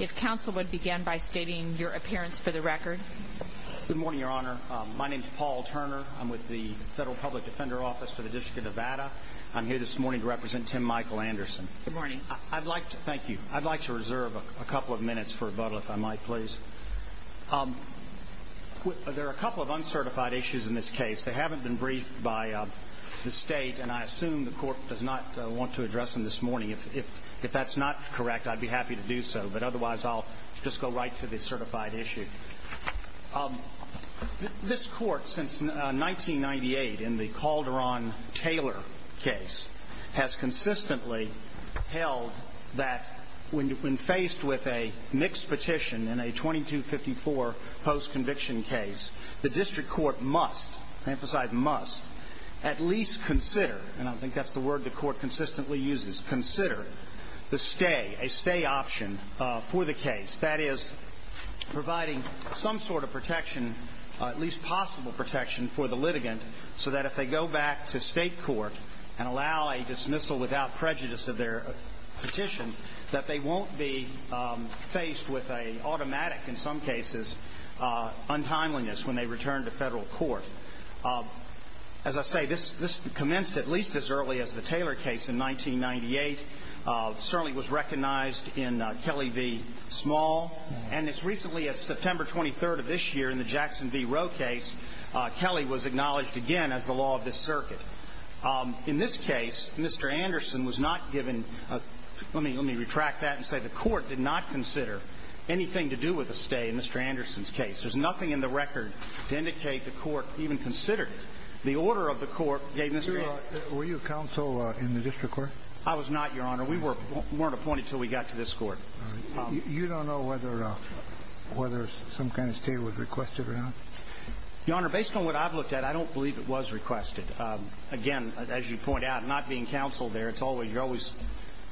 if council would begin by stating your appearance for the record good morning your honor uh... my name's paul turner federal public defender office for the district of atta i'm here this morning represent him michael anderson morning i'd like to thank you i'd like to reserve a couple of minutes for a bottle if i might please there are a couple of uncertified issues in this case they haven't been briefed by uh... the state and i assume the court does not want to address in this morning if if that's not correct i'd be happy to do so but otherwise all just go right to the certified issue this court since nineteen ninety eight in the calderon taylor has consistently when you've been faced with a mixed petition in a twenty two fifty four post-conviction case the district court must emphasize must at least consider and i think that's the word the court consistently uses consider the stay a stay option uh... for the case that is providing some sort of protection uh... at least possible protection for the litigant so that if they go back to state court and allow a dismissal without prejudice of their petition that they won't be uh... faced with a automatic in some cases uh... untimeliness when they return to federal court uh... as i say this this commenced at least as early as the taylor case in nineteen ninety eight uh... certainly was recognized in uh... kelly v small and as recently as september twenty third of this year in the jackson v roe case uh... kelly was acknowledged again as the law of the circuit uh... in this case mister anderson was not given let me let me retract that and say the court did not consider anything to do with the stay in mister anderson's case there's nothing in the record to indicate the court even considered it the order of the court gave mister anderson were you a counsel in the district court i was not your honor we weren't appointed until we got to this court you don't know whether whether some kind of stay was requested or not your honor based on what i've looked at i don't believe it was requested uh... again as you point out not being counseled there it's always you're always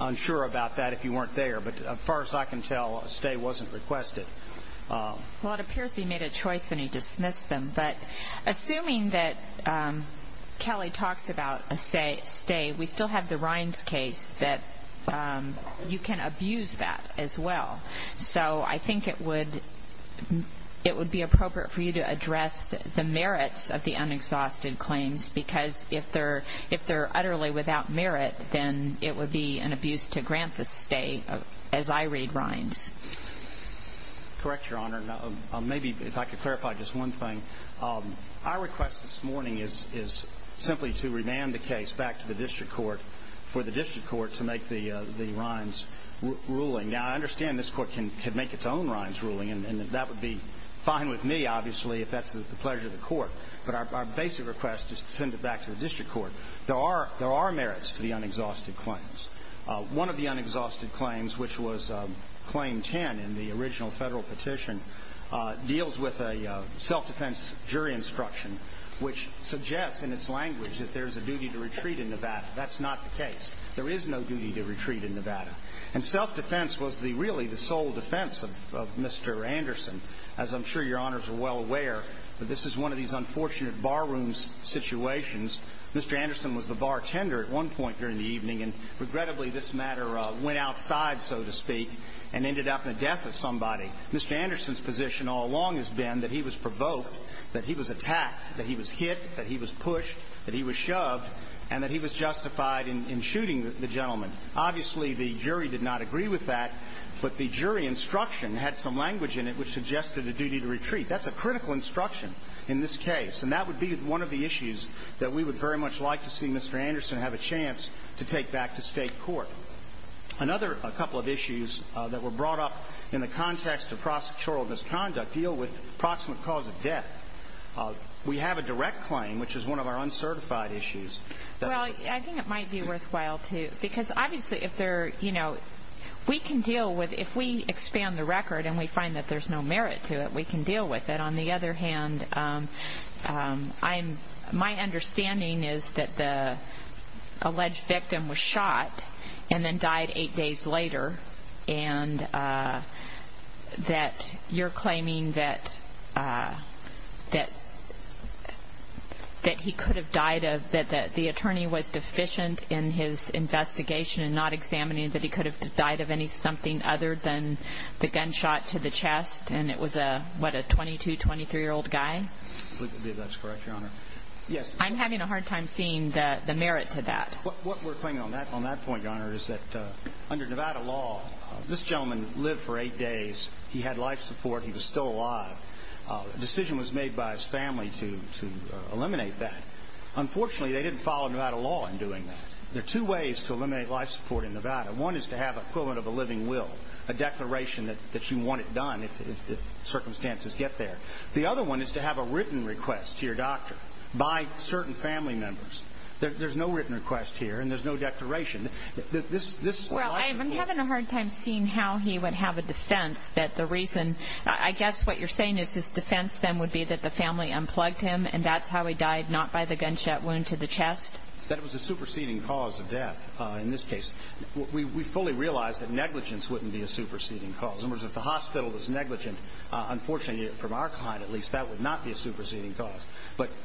unsure about that if you weren't there but as far as i can tell a stay wasn't requested well it appears he made a choice and he dismissed them but assuming that kelly talks about a stay we still have the rinds case that uh... you can abuse that as well so i think it would it would be appropriate for you to address the merits of the unexhausted claims because if they're if they're utterly without merit then it would be an abuse to grant the stay as i read rinds correct your honor maybe if i could clarify just one thing our request this morning is simply to remand the case back to the district court for the district court to make the uh... the rinds ruling now i understand this court can make its own rinds ruling and that would be fine with me obviously if that's the pleasure of the court but our basic request is to send it back to the district court there are merits to the unexhausted claims uh... one of the unexhausted claims which was uh... claim ten in the original federal petition uh... deals with a uh... self-defense jury instruction which suggests in its language that there's a duty to retreat in nevada that's not the case there is no duty to retreat in nevada and self-defense was the really the sole defense of of mister anderson as i'm sure your honors are well aware that this is one of these unfortunate bar rooms situations mister anderson was the bartender at one point during the evening and regrettably this matter uh... went outside so to speak and ended up in the death of somebody mister anderson's position all along has been that he was provoked that he was attacked that he was hit that he was pushed that he was shoved and that he was justified in in shooting the gentleman obviously the jury did not agree with that but the jury instruction had some language in it which suggested a duty to retreat that's a critical instruction in this case and that would be one of the issues that we would very much like to see mister anderson have a chance to take back to state court another couple of issues that were brought up in the context of prosecutorial misconduct deal with proximate cause of death we have a direct claim which is one of our uncertified issues well i think it might be worthwhile to because obviously if they're you know we can deal with if we expand the record and we find that there's no merit to it we can deal with it on the other hand uh... I'm my understanding is that the alleged victim was shot and then died eight days later and uh... that you're claiming that that he could have died of that the attorney was deficient in his investigation and not examining that he could have died of any something other than the gunshot to the chest and it was a what a twenty two twenty three-year-old guy yes i'm having a hard time seeing that the merit to that what we're playing on that on that point honors that uh... under nevada law this gentleman live for eight days he had life support he was still alive uh... decision was made by his family to to eliminate that unfortunately they didn't follow nevada law in doing that there are two ways to eliminate life support in nevada one is to have equivalent of a living will a declaration that that you want it done if the other one is to have a written request to your doctor by certain family members that there's no written request here and there's no declaration that this this well i'm having a hard time seeing how he would have a defense that the reason i guess what you're saying is this defense then would be that the family unplugged him and that's how he died not by the gunshot wound to the chest that was a superseding cause of death uh... in this case we we fully realize that negligence wouldn't be a superseding cause of the hospital is negligent uh... unfortunately from our side at least that would not be a superseding cause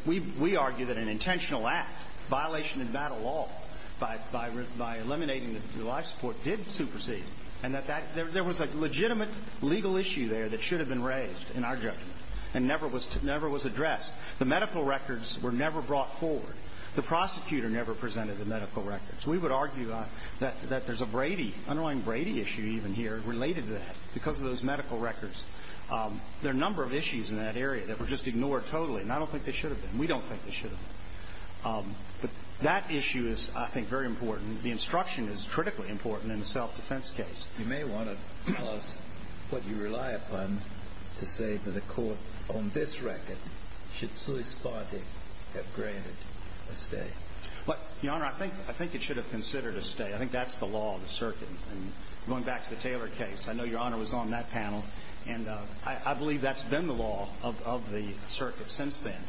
we we argue that an intentional act violation of nevada law by eliminating the life support did supersede and that there was a legitimate legal issue there that should have been raised in our judgment and never was never was addressed the medical records were never brought forward the prosecutor never presented the medical records we would argue that that there's a Brady underlying Brady issue even here related to that because those medical records uh... there are a number of issues in that area that were just ignored totally and i don't think they should have been we don't think they should have been that issue is i think very important the instruction is critically important in the self-defense case you may want to tell us what you rely upon to say that a court on this record should sui spartic have granted a stay your honor i think i think it should have considered a stay i think that's the law of the circuit going back to the taylor case i know your honor was on that panel i believe that's been the law of of the circuit since then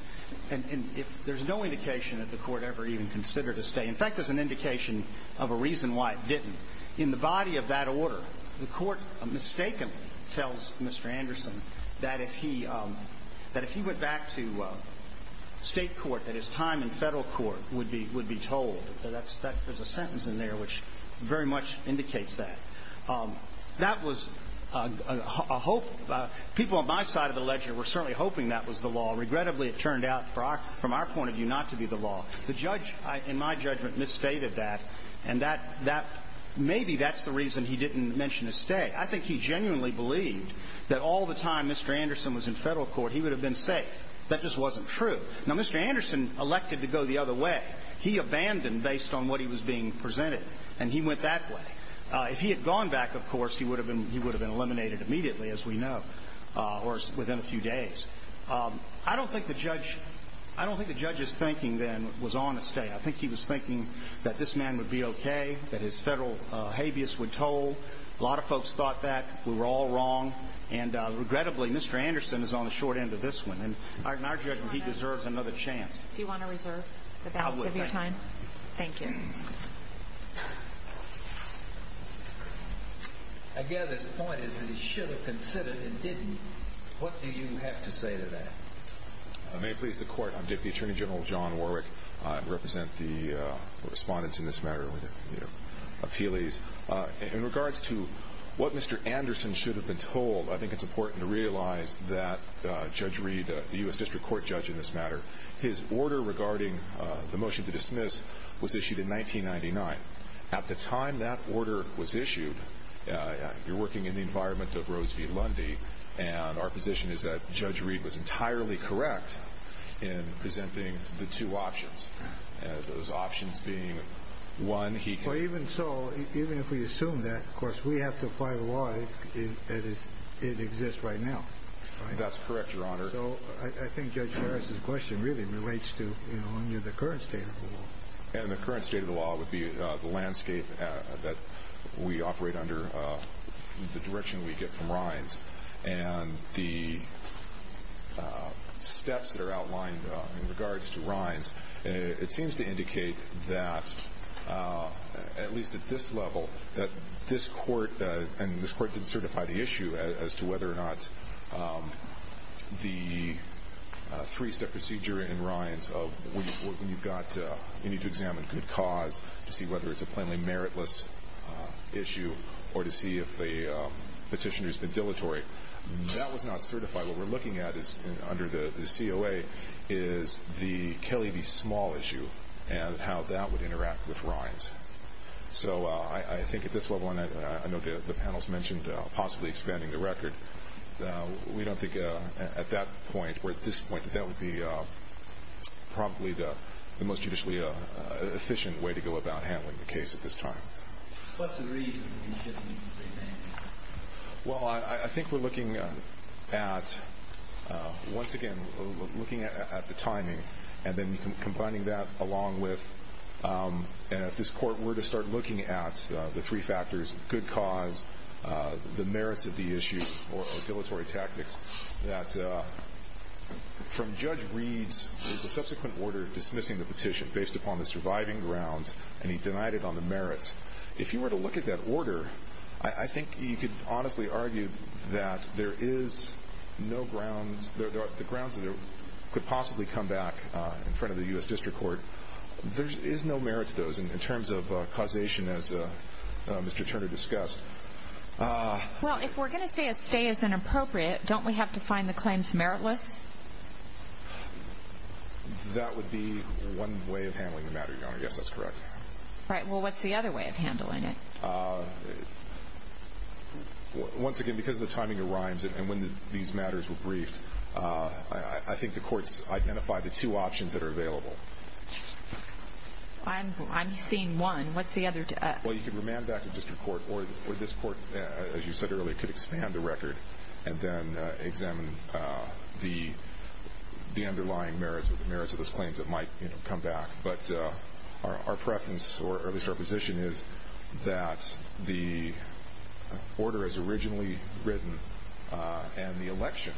and and if there's no indication of the court ever even considered a stay in fact as an indication of a reason why it didn't in the body of that order mistakenly tells mister anderson that if he um... that if you went back to uh... state court that his time in federal court would be would be told that's that there's a sentence in there which very much indicates that that was uh... hope people on my side of the ledger were certainly hoping that was the law regrettably it turned out from our point of view not to be the law the judge in my judgment misstated that maybe that's the reason he didn't mention a stay i think he genuinely believed that all the time mister anderson was in federal court he would have been safe that just wasn't true now mister anderson elected to go the other way he abandoned based on what he was being presented and he went that way uh... if he had gone back of course he would have been he would have been eliminated immediately as we know uh... or within a few days i don't think the judge i don't think the judge's thinking then was on a stay i think he was thinking that this man would be okay that his federal habeas would toll a lot of folks thought that we were all wrong and uh... regrettably mister anderson is on the short end of this one in our judgment he deserves another chance if you want to reserve the balance of your time thank you again this point is that he should have considered and didn't what do you have to say to that may it please the court i'm deputy attorney general john warwick uh... represent the uh... respondents in this matter appealees uh... in regards to what mister anderson should have been told i think it's important to realize that uh... judge reed uh... the u.s. district court judge in this matter his order regarding uh... the motion to dismiss was issued in nineteen ninety nine at the time that order was issued uh... you're working in the environment of rose v lundy and our position is that judge reed was entirely correct in presenting the two options and those options being one he could even so even if we assume that of course we have to apply the law it exists right now that's correct your honor i think judge harris' question really relates to under the current state of the law and the current state of the law would be uh... the landscape we operate under the direction we get from ryan's and the steps that are outlined in regards to ryan's it seems to indicate that at least at this level this court uh... and this court did certify the issue as to whether or not the three-step procedure in ryan's when you've got uh... you need to examine good cause to see whether it's a plainly meritless issue or to see if the uh... petitioner's been dilatory that was not certified what we're looking at is under the the c o a is the kelly v small issue and how that would interact with ryan's so uh... i i think at this level and i know that the panel's mentioned uh... possibly expanding the record uh... we don't think uh... at that point or at this point that that would be uh... probably the most judicially uh... efficient way to go about handling the case at this time what's the reason well i i i think we're looking at once again looking at the timing and then combining that along with and if this court were to start looking at uh... the three factors good cause uh... the merits of the issue or dilatory tactics that uh... from judge reed's subsequent order dismissing the petition based upon the surviving grounds and he denied it on the merits if you were to look at that order i think you could honestly argue that there is no grounds the grounds could possibly come back from the u s district court there's is no merit to those in terms of uh... causation as uh... mister turner discussed uh... well if we're going to stay as an appropriate don't we have to find the claims meritless that would be one way of handling the matter your honor yes that's correct right well what's the other way of handling it uh... once again because the timing arrives and when these matters were briefed uh... i think the courts identify the two options that are available i'm seeing one what's the other uh... well you could remand back to district court or this court as you said earlier could expand the record and then uh... examine uh... the the underlying merits of those claims that might come back but uh... our preference or at least our position is that the order as originally written uh... and the election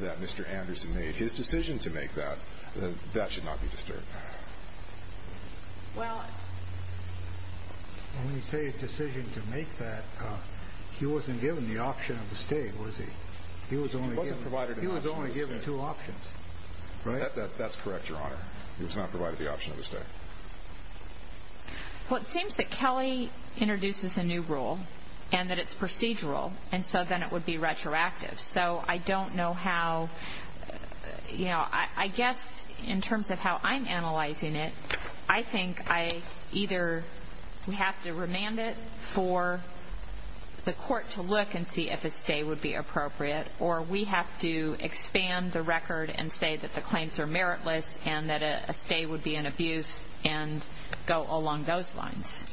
that mister anderson made his decision to make that that should not be disturbed well when he made his decision to make that he wasn't given the option of the stay was he he was only given two options that's correct your honor he was not provided the option of the stay well it seems that kelly introduces a new rule and that it's procedural and so then it would be retroactive so i don't know how you know i i guess in terms of how i'm analyzing it i think i either we have to remand it for the court to look and see if a stay would be appropriate or we have to expand the record and say that the claims are meritless and that a stay would be an abuse and go along those lines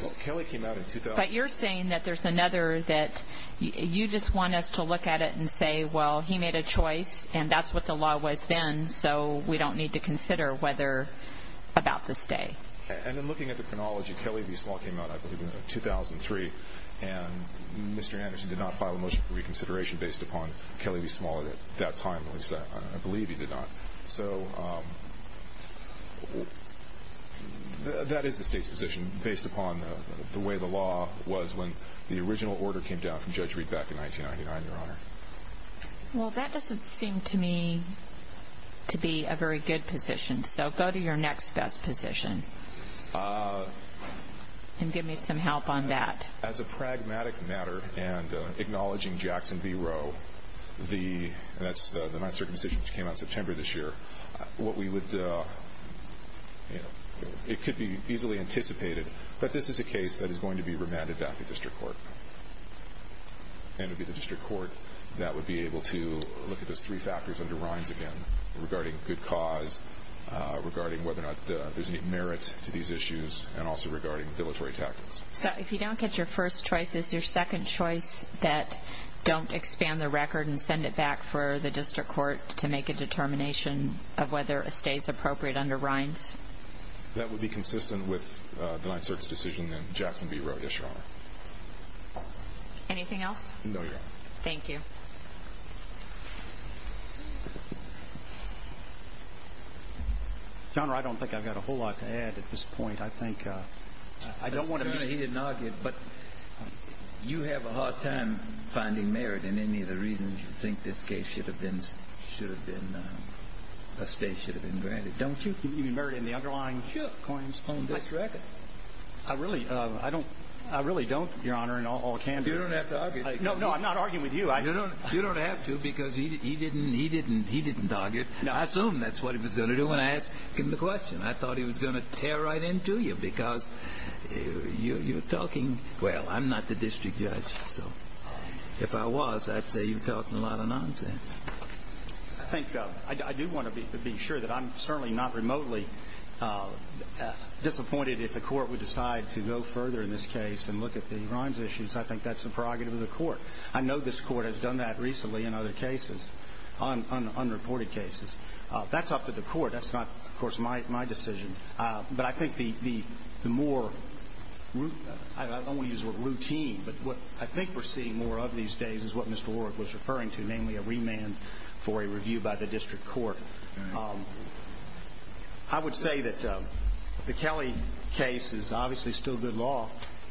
well kelly came out in two thousand but you're saying that there's another that you just want us to look at it and say well he made a choice and that's what the law was then so we don't need to consider whether about the stay and in looking at the chronology kelly v small came out i believe in two thousand three and mister anderson did not file a motion for reconsideration based upon kelly v small at that time at least i believe he did not so um that is the state's position based upon the way the law was when the original order came down from judge reid back in nineteen ninety nine your honor well that doesn't seem to me to be a very good position so go to your next best position uh... and give me some help on that as a pragmatic matter and uh... acknowledging jackson v roe the that's uh... my circumcision came out september this year what we would uh... it could be easily anticipated but this is a case that is going to be remanded back to district court and to be the district court that would be able to look at those three factors under ryan's again regarding good cause uh... regarding whether or not uh... there's any merit to these issues and also regarding deletory tactics so if you don't get your first choice is your second choice that don't expand the record and send it back for the district court to make a determination of whether it stays appropriate under ryan's that would be consistent with uh... the night search decision that jackson v roe did your honor anything else no your honor thank you john i don't think i've got a whole lot to add at this point i think uh... i don't want to be he didn't argue but you have a hard time finding merit in any of the reasons you think this case should have been should have been uh... this case should have been granted don't you think you can merit in the underlying coins on this record i really uh... i don't i really don't your honor in all candor you don't have to argue no i'm not arguing with you you don't have to because he didn't he didn't he didn't argue i assume that's what he was going to do when i asked him the question i thought he was going to tear right into you because you're talking well i'm not the district judge if i was i'd say you're talking a lot of nonsense i think uh... i do want to be to be sure that i'm certainly not remotely disappointed if the court would decide to go further in this case and look at the ron's issues i think that's the prerogative of the court i know this court has done that recently in other cases on unreported cases uh... that's up to the court that's not of course my my decision uh... but i think the the the more i don't want to use the word routine but what i think we're seeing more of these days is what mr ward was referring to namely a remand for a review by the district court i would say that uh... the kelly case is obviously still good law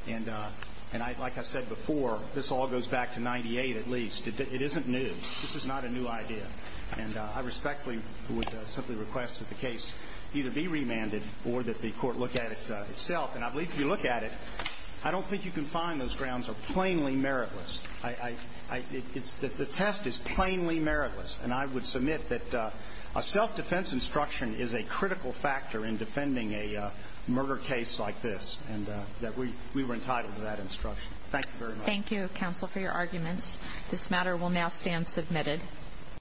and uh... and i'd like i said before this all goes back to ninety eight at least it isn't new this is not a new idea and uh... i respectfully would simply request that the case either be remanded or that the court look at it uh... itself and i believe if you look at it i don't think you can find those grounds are plainly meritless the test is plainly meritless and i would submit that uh... a self-defense instruction is a critical factor in defending a uh... murder case like this that we were entitled to that instruction thank you very much thank you counsel for your arguments this matter will now stand submitted